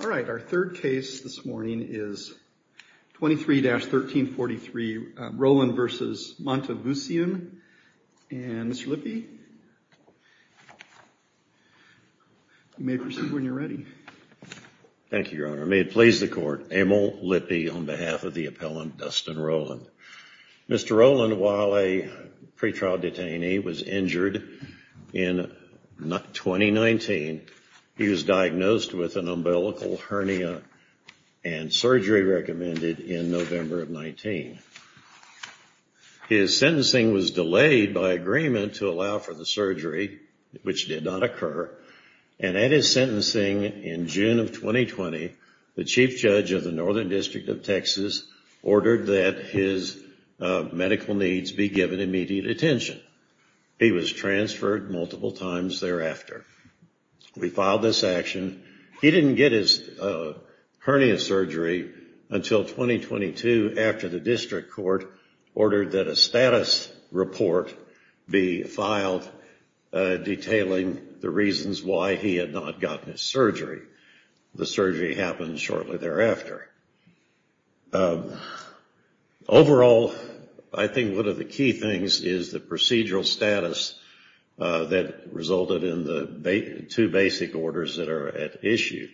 All right. Our third case this morning is 23-1343 Rowland v. Matevousian. And Mr. Lippe, you may proceed when you're ready. Thank you, Your Honor. May it please the court, I'm Emil Lippe on behalf of the appellant Dustin Rowland. Mr. Rowland, while a pretrial detainee was injured in 2019, he was diagnosed with an umbilical hernia and surgery recommended in November of 19. His sentencing was delayed by agreement to allow for the surgery, which did not occur. And at his sentencing in June of 2020, the chief judge of the Northern District of Texas ordered that his medical needs be given immediate attention. He was transferred multiple times thereafter. We filed this action. He didn't get his hernia surgery until 2022 after the district court ordered that a status report be filed detailing the reasons why he had not gotten his surgery. The surgery happened shortly thereafter. Overall, I think one of the key things is the procedural status that resulted in the two basic orders that are at issue.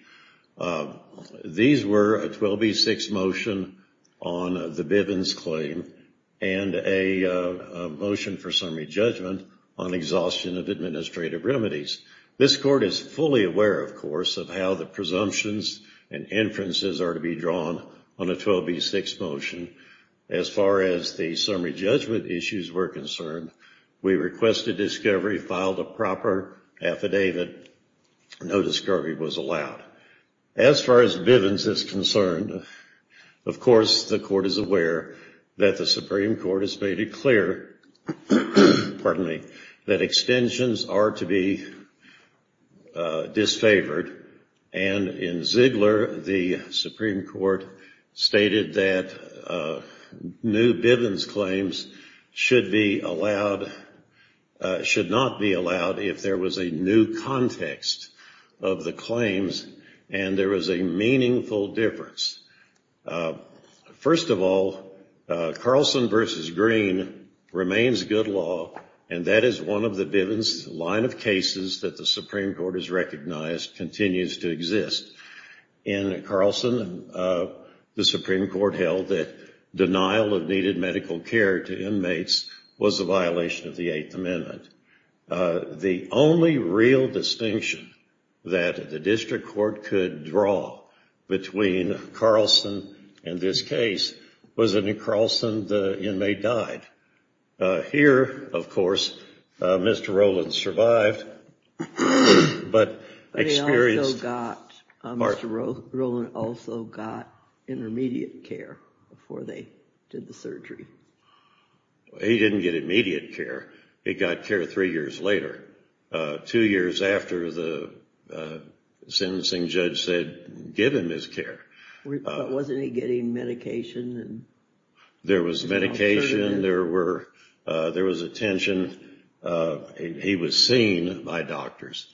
These were a 12B6 motion on the Bivens claim and a motion for summary judgment on exhaustion of administrative remedies. This court is fully aware, of course, of how the presumptions and inferences are to be drawn on a 12B6 motion. As far as the summary was allowed. As far as Bivens is concerned, of course, the court is aware that the Supreme Court has made it clear that extensions are to be disfavored. And in Ziegler, the Supreme Court stated that new Bivens claims should not be allowed if there was a new context of the claims and there was a meaningful difference. First of all, Carlson v. Green remains good law and that is one of the Bivens line of cases that the Supreme Court has recognized continues to exist. In Carlson, the Supreme Court held that denial of needed medical care to inmates was a violation of the Eighth Amendment. The only real distinction that the district court could draw between Carlson and this case was that in Carlson the inmate died. Here, of course, Mr. Rowland survived, but experienced heart failure. He didn't get immediate care. He got care three years later. Two years after the sentencing judge said, give him his care. Wasn't he getting medication? There was medication. There was attention. He was seen by doctors.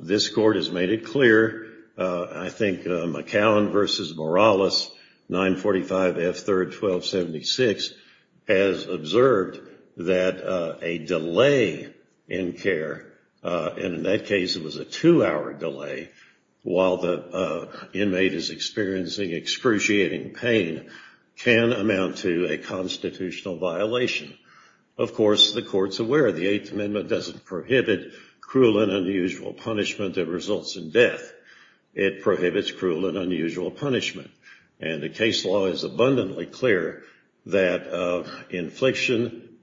This court has made it clear. I think McAllen v. Morales, 945 F. 3rd 1276, has observed that a delay in care, and in that case it was a two-hour delay while the inmate is experiencing excruciating pain, can amount to a constitutional violation. Of course, the court's aware the Eighth Amendment doesn't prohibit cruel and unusual punishment that results in death. It prohibits cruel and unusual punishment. And the case law is abundantly clear that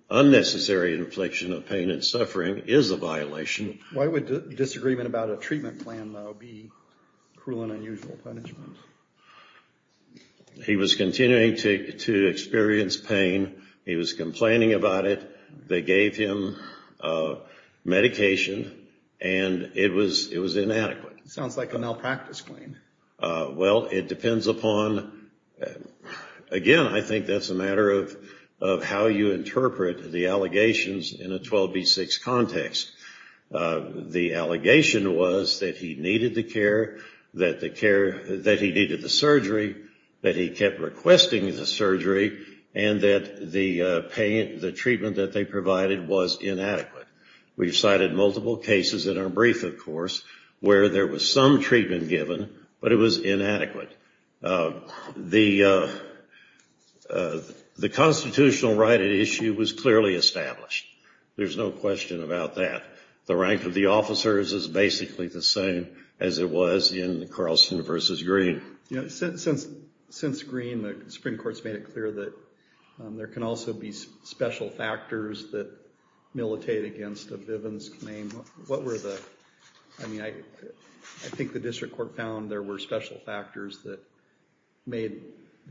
unnecessary infliction of pain and suffering is a violation. Why would disagreement about a treatment plan, though, be cruel and unusual punishment? He was continuing to experience pain. He was complaining about it. They gave him medication and it was inadequate. Sounds like a malpractice claim. Well, it depends upon, again, I think that's a matter of how you interpret the allegations in a 12b6 context. The allegation was that he needed the care, that he needed the surgery, that he kept requesting the surgery, and that the treatment that they provided was inadequate. We've cited multiple cases in our brief, of course, where there was some treatment given, but it was inadequate. The constitutional right at issue was clearly established. There's no question about that. The rank of the officers is basically the same as it was in Carlson v. Green. Since Green, the Supreme Court's made it clear that there can also be special factors that militate against a Bivens claim. I think the district court found there were special factors that made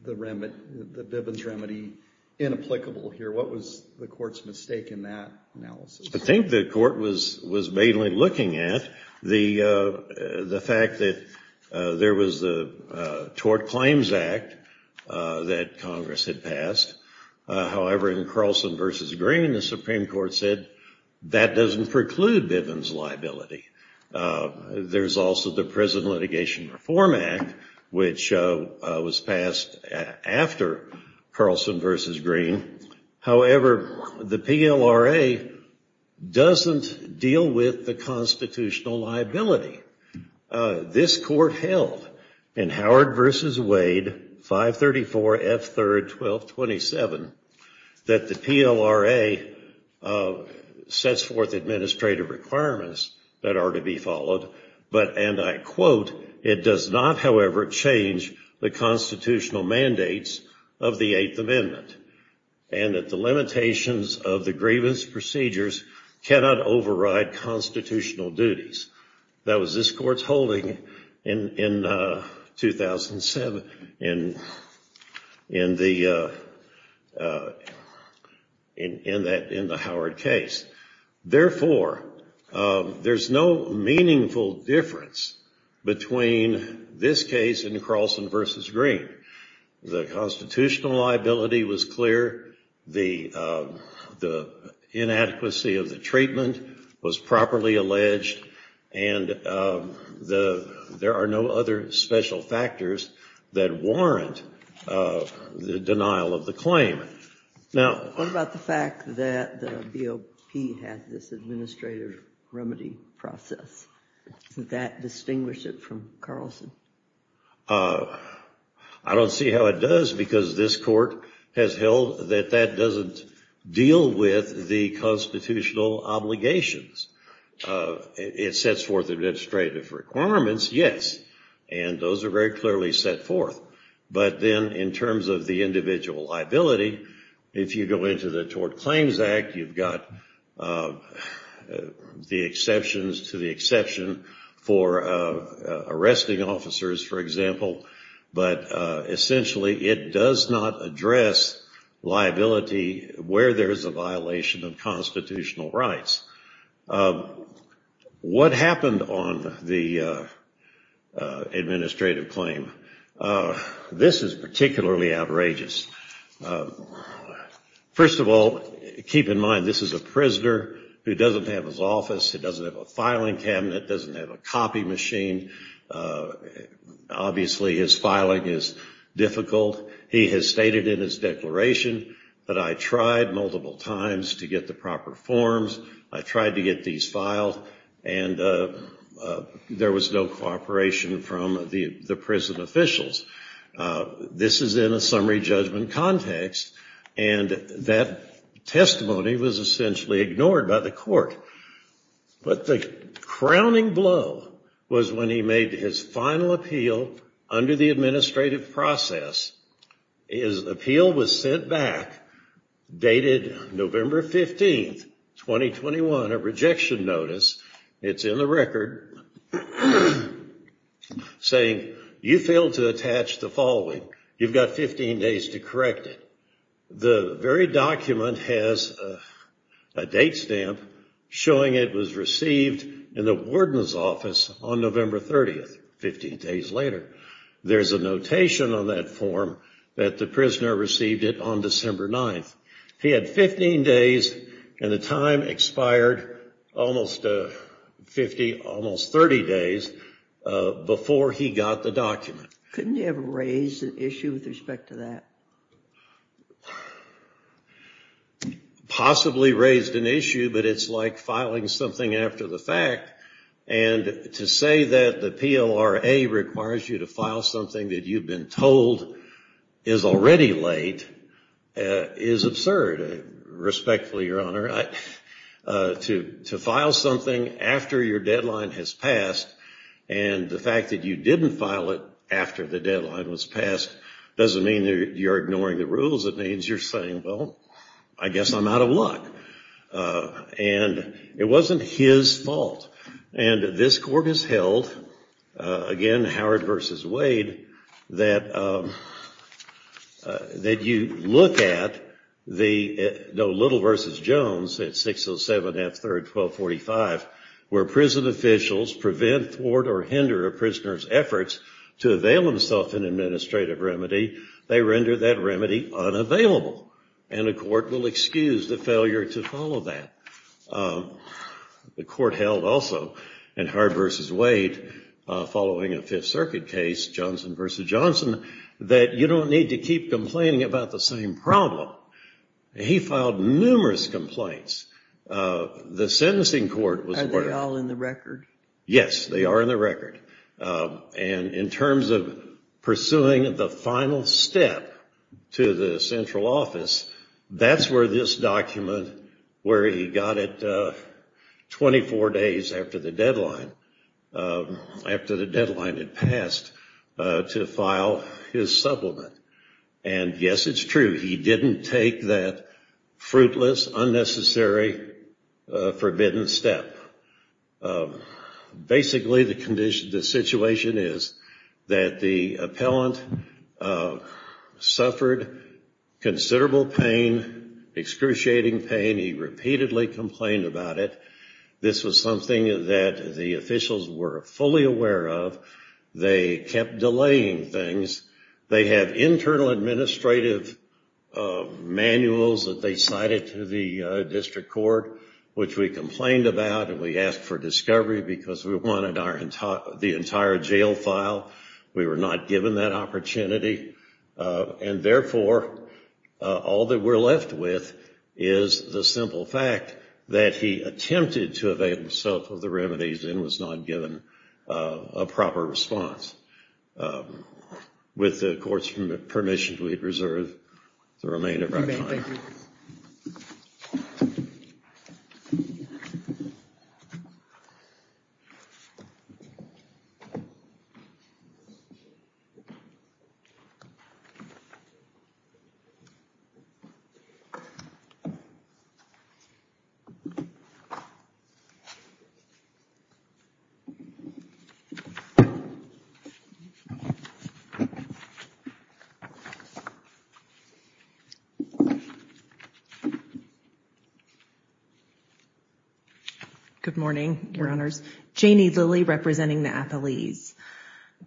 the Bivens remedy inapplicable here. What was the court's mistake in that analysis? I think the court was mainly looking at the fact that there was the Tort Claims Act that Congress had passed. However, in Carlson v. Green, the Supreme Court said that doesn't preclude Bivens liability. There's also the Prison Litigation Reform Act, which was passed after Carlson v. Green. However, the PLRA doesn't deal with the liability. This court held in Howard v. Wade, 534 F. 3, 1227, that the PLRA sets forth administrative requirements that are to be followed, but, and I quote, it does not, however, change the constitutional mandates of the Eighth Amendment, and that the limitations of the grievance procedures cannot override constitutional duties. That was this court's holding in 2007 in the Howard case. Therefore, there's no meaningful difference between this case and Carlson v. Green. The constitutional liability was clear. The inadequacy of the treatment was properly alleged, and there are no other special factors that warrant the denial of the claim. What about the fact that the BOP had this administrative remedy process? Did that distinguish it from Carlson? I don't see how it does because this court has held that that doesn't deal with the constitutional obligations. It sets forth administrative requirements, yes, and those are very clearly set forth, but then in terms of the individual liability, if you go into the Tort Claims Act, you've got the exceptions to the exception for arresting officers, for example, but essentially it does not address liability where there is a violation of constitutional rights. What happened on the administrative claim? This is particularly outrageous. First of all, keep in mind this is a prisoner who doesn't have his office. He doesn't have a filing cabinet. He doesn't have a copy machine. Obviously, his filing is difficult. He has stated in his declaration that I tried multiple times to get the proper forms. I tried to get these filed, and there was no cooperation from the prison officials. This is in a summary judgment context, and that testimony was essentially ignored by the court, but the crowning blow was when he made his final appeal under the administrative process. His appeal was sent back, dated November 15, 2021, a rejection notice. It's in the record saying you failed to attach the following. You've got 15 days to correct it. The very document has a date stamp showing it was received in the warden's office on November 30, 15 days later. There's a notation on that form that the prisoner received it on December 9. He had 15 days, and the time expired almost 30 days before he got the document. Couldn't he have raised an issue with respect to that? Possibly raised an issue, but it's like filing something after the fact, and to say that the PLRA requires you to file something that you've been told is already late is absurd, respectfully, Your Honor. To file something after your deadline has passed, and the fact that you didn't file it after the deadline was passed doesn't mean you're ignoring the rules. It means you're saying, well, I guess I'm out of luck, and it wasn't his fault, and this court has held, again, Howard v. Wade, that you look at Little v. Jones at 607 F. 3rd, 1245, where prison officials prevent, thwart, or hinder a prisoner's efforts to avail themselves an administrative remedy. They render that remedy unavailable, and the court will excuse the failure to follow that. The court held, also, in Howard v. Wade, following a Fifth Circuit case, Johnson v. Johnson, that you don't need to keep complaining about the same problem. He filed numerous complaints. The sentencing court was... Are they all in the record? Yes, they are in the record, and in terms of pursuing the final step to the central office, that's where this document, where he got it 24 days after the deadline had passed, to file his supplement, and yes, it's true. He didn't take that fruitless, unnecessary, forbidden step. Basically, the situation is that the appellant suffered considerable pain, excruciating pain. He repeatedly complained about it. This was something that the officials were fully aware of. They kept delaying things. They have internal administrative manuals that they cited to the district court, which we complained about, and we asked for discovery because we wanted the entire jail file. We were not given that opportunity, and therefore, all that we're left with is the simple fact that he attempted to evade himself of the remedies and was not given a proper response. With the court's permission, we reserve the remainder of our time. Thank you. Good morning, Your Honors. Janie Lilly, representing the athletes.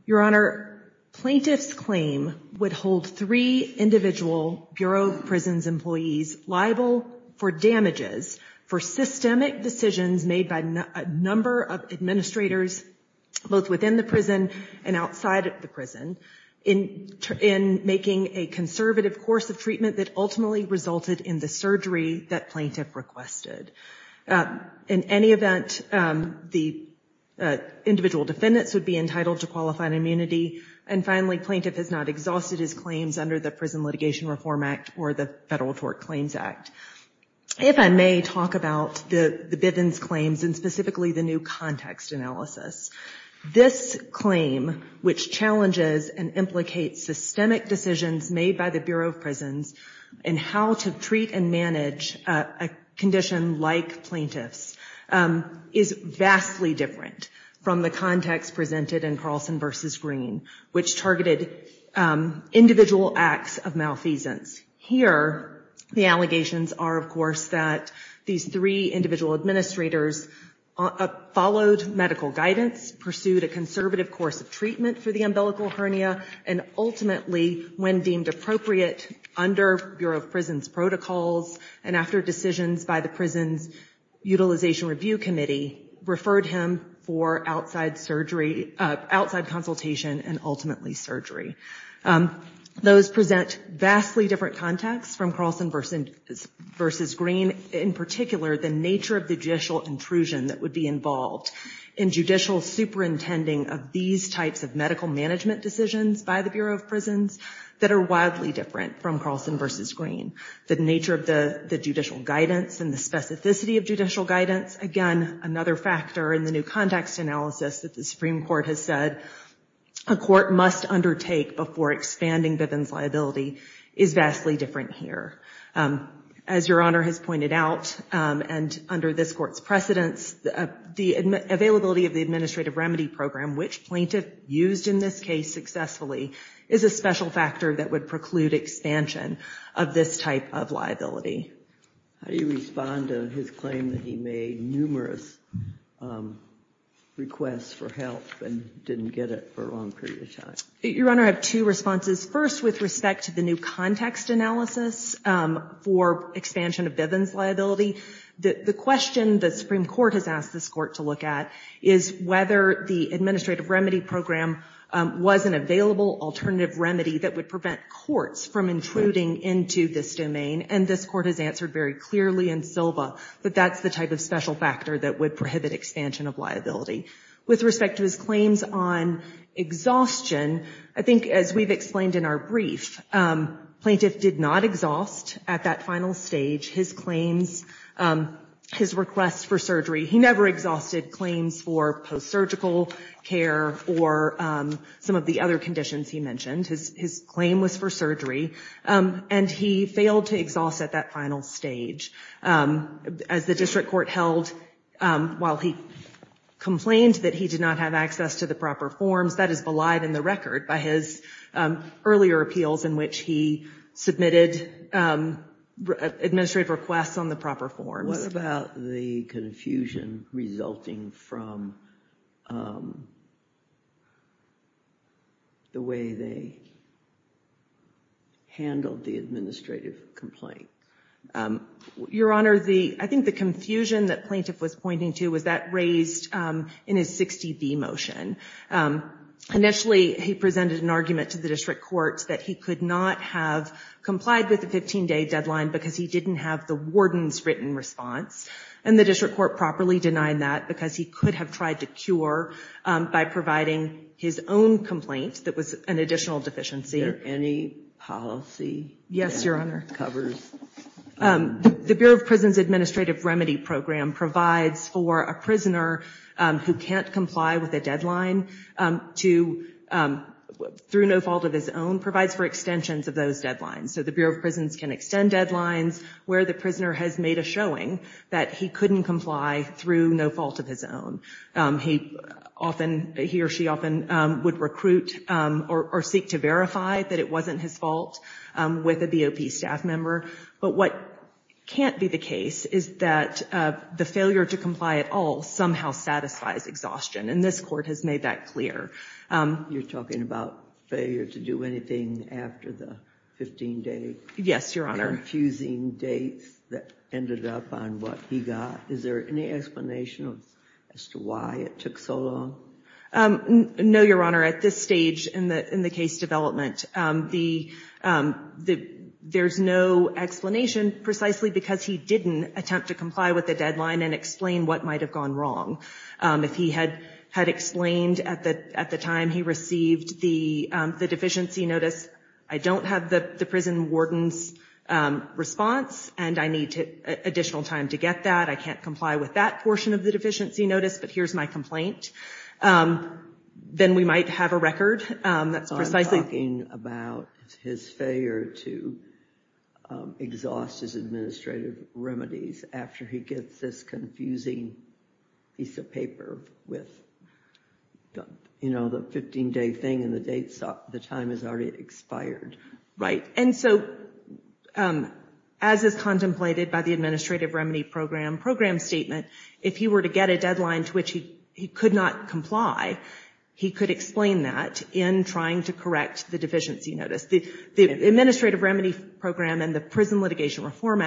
Your Honor, plaintiff's claim would hold three individual Bureau of Prisons employees liable for damages for systemic decisions made by a number of administrators, both within the prison and outside the prison, in making a conservative course of treatment that ultimately resulted in surgery that plaintiff requested. In any event, the individual defendants would be entitled to qualified immunity, and finally, plaintiff has not exhausted his claims under the Prison Litigation Reform Act or the Federal Tort Claims Act. If I may talk about the Bivens claims and specifically the new context analysis. This claim, which challenges and implicates systemic decisions made by the Bureau of Prisons in how to treat and manage a condition like plaintiff's, is vastly different from the context presented in Carlson v. Green, which targeted individual acts of malfeasance. Here, the allegations are, of course, that these three individual administrators followed medical guidance, pursued a conservative course of treatment for the umbilical hernia, and ultimately, when deemed appropriate under Bureau of Prisons protocols and after decisions by the Prisons Utilization Review Committee, referred him for outside consultation and ultimately surgery. Those present vastly different contexts from Carlson v. Green. In particular, the nature of the judicial intrusion that would be involved in judicial superintending of these types of medical management decisions by the Bureau of Prisons that are wildly different from Carlson v. Green. The nature of the judicial guidance and the specificity of judicial guidance, again, another factor in the new context analysis that the Supreme Court has said a court must undertake before expanding Bivens liability, is vastly different here. As Your Honor has pointed out, and under this Court's precedence, the availability of the administrative remedy program, which plaintiff used in this case successfully, is a special factor that would preclude expansion of this type of liability. How do you respond to his claim that he made numerous requests for help and didn't get it for a long period of time? Your Honor, I have two responses. First, with respect to the new context analysis for expansion of Bivens liability, the question the Supreme Court has asked this Court to look at is whether the administrative remedy program was an available alternative remedy that would prevent courts from intruding into this domain. And this Court has answered very clearly in Silva that that's the type of special factor that would prohibit expansion of liability. With respect to his claims on exhaustion, I think as we've explained in our brief, plaintiff did not exhaust at that final stage his claims, his requests for surgery. He never exhausted claims for post-surgical care or some of the other conditions he mentioned. His claim was for surgery, and he failed to exhaust at that final stage. As the district court held, while he complained that he did not have access to the proper forms, that is belied in the record by his earlier appeals in which he submitted administrative requests on the proper forms. What about the confusion resulting from the way they handled the administrative complaint? Your Honor, I think the confusion that plaintiff was pointing to was that raised in his 60B motion. Initially, he presented an argument to the district courts that he could not have complied with the 15-day deadline because he didn't have the warden's written response, and the district court properly denied that because he could have tried to cure by providing his own complaint that was an additional deficiency. Is there any policy that covers that? Yes, Your Honor. The Bureau of Prisons Administrative Remedy Program provides for a prisoner who can't comply with a deadline through no fault of his own, provides for extensions of those deadlines. So the Bureau of Prisons can extend deadlines where the prisoner has made a showing that he couldn't comply through no fault of his own. He often, he or she often would recruit or seek to verify that it wasn't his fault with a BOP staff member. But what can't be the case is that the failure to comply at all somehow satisfies exhaustion, and this court has made that clear. You're talking about failure to do anything after the 15-day... Yes, Your Honor. ...confusing dates that ended up on what he got. Is there any explanation as to why it took so long? No, Your Honor. At this stage in the case development, there's no explanation precisely because he didn't attempt to comply with the deadline and explain what might have gone wrong. If he had explained at the time he received the deficiency notice, I don't have the prison warden's response, and I need additional time to get that. I can't comply with that portion of the deficiency notice, but here's my complaint. Then we might have a record that's precisely... So I'm talking about his failure to exhaust his administrative remedies after he gets this confusing piece of paper with, you know, the 15-day thing and the time has already expired. Right. And so as is contemplated by the administrative remedy program statement, if he were to get a deadline to which he could not comply, he could explain that in trying to correct the deficiency notice. The administrative remedy program and the Prison Litigation Reform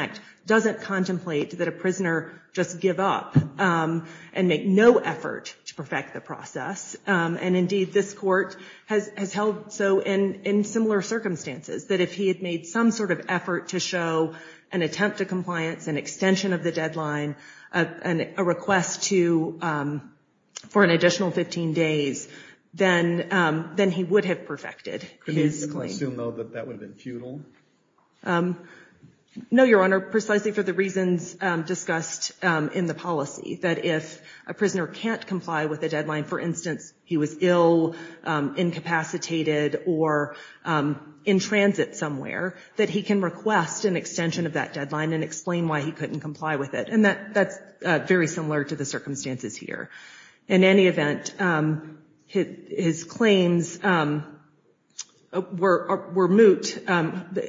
doesn't contemplate that a prisoner just give up and make no effort to perfect the process. And indeed, this court has held so in similar circumstances, that if he had made some sort of effort to show an attempt to compliance, an extension of the deadline, and a request for an additional 15 days, then he would have perfected his claim. Could we assume, though, that that would have been futile? No, Your Honor, precisely for the reasons discussed in the policy, that if a prisoner can't comply with a deadline, for instance, he was ill, incapacitated, or in transit somewhere, that he can request an extension of that deadline and explain why he couldn't comply with it. And that's very similar to the circumstances here. In any event, his claims were moot.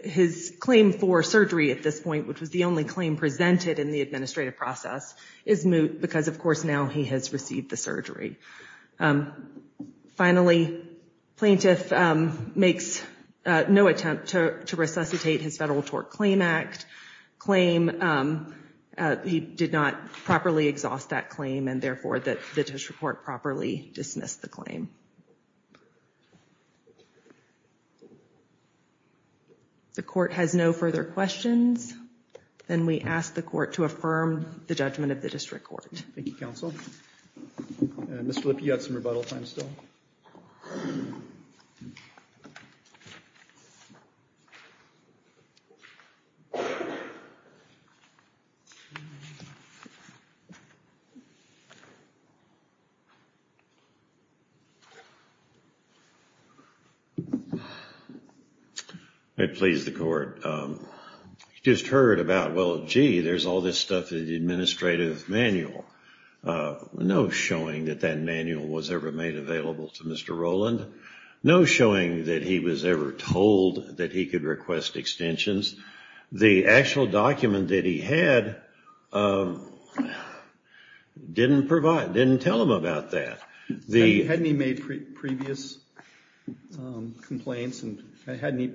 His claim for surgery at this point, which was the only claim presented in the administrative process, is moot because, of course, now he has received the surgery. Finally, plaintiff makes no attempt to resuscitate his Federal Tort Claim Act claim. He did not properly exhaust that claim, and therefore, the district court properly dismissed the claim. The court has no further questions, and we ask the court to affirm the judgment of the district court. Thank you, counsel. Mr. Lipp, you have some rebuttal time still. I please the court. You just heard about, well, gee, there's all this stuff in the administrative manual. No showing that that manual was ever made available to Mr. Rowland. No showing that he was ever told that he could request extensions. The actual document that he had didn't tell him about that. Hadn't he made previous complaints, and hadn't he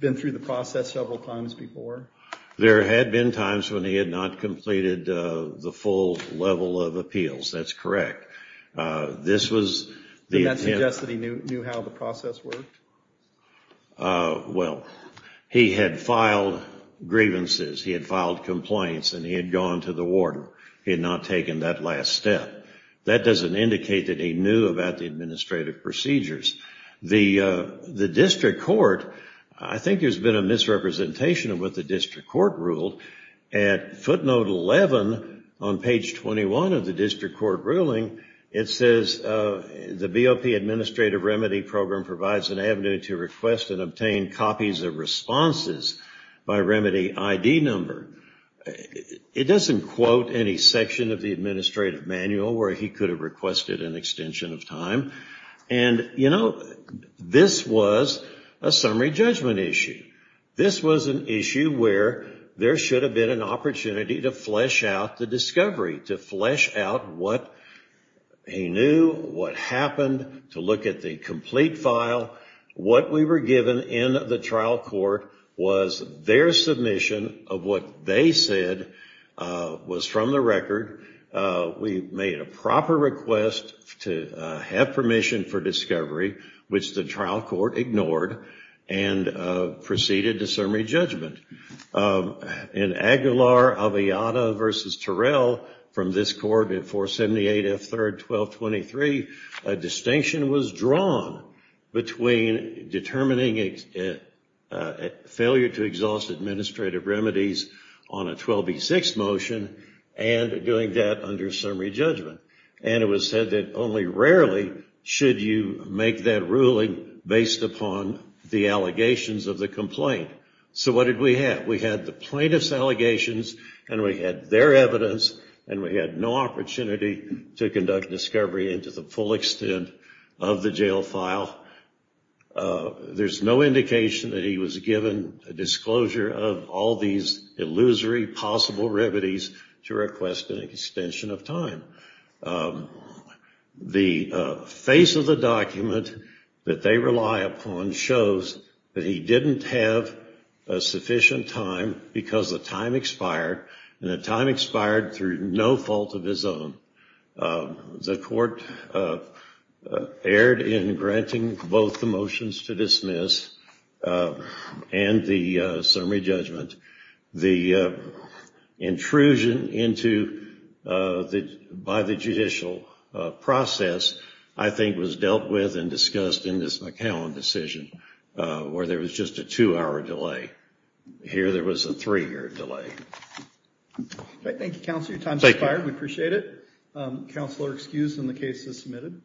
been through the process several times before? There had been times when he had not completed the full level of appeals. That's true. Well, he had filed grievances, he had filed complaints, and he had gone to the warden. He had not taken that last step. That doesn't indicate that he knew about the administrative procedures. The district court, I think there's been a misrepresentation of what the district court ruled. At footnote 11 on page 21 of the district court ruling, it says the BOP administrative remedy program provides an avenue to request and obtain copies of responses by remedy ID number. It doesn't quote any section of the administrative manual where he could have requested an extension of time. And, you know, this was a summary judgment issue. This was an issue where there should have been an opportunity to flesh out the discovery, to flesh out what he knew, what happened, to look at the complete file. What we were given in the trial court was their submission of what they said was from the record. We made a proper request to have permission for discovery, which the trial court ignored, and proceeded to summary judgment. In Aguilar, Aviada v. Terrell, from this court in 478 F. 3rd 1223, a distinction was drawn between determining a failure to exhaust administrative remedies on a 12B6 motion and doing that under summary judgment. And it was said that only rarely should you make that ruling based upon the allegations of the plaintiff. So what did we have? We had the plaintiff's allegations, and we had their evidence, and we had no opportunity to conduct discovery into the full extent of the jail file. There's no indication that he was given a disclosure of all these illusory possible remedies to request an extension of time. The face of the document that they rely upon shows that he didn't have a sufficient time because the time expired, and the time expired through no fault of his own. The court erred in granting both the dismiss and the summary judgment. The intrusion by the judicial process, I think, was dealt with and discussed in this McCowan decision, where there was just a two-hour delay. Here, there was a three-hour delay. Thank you, Counselor. Your time has expired. We appreciate it. Counselor excused, and the case is submitted.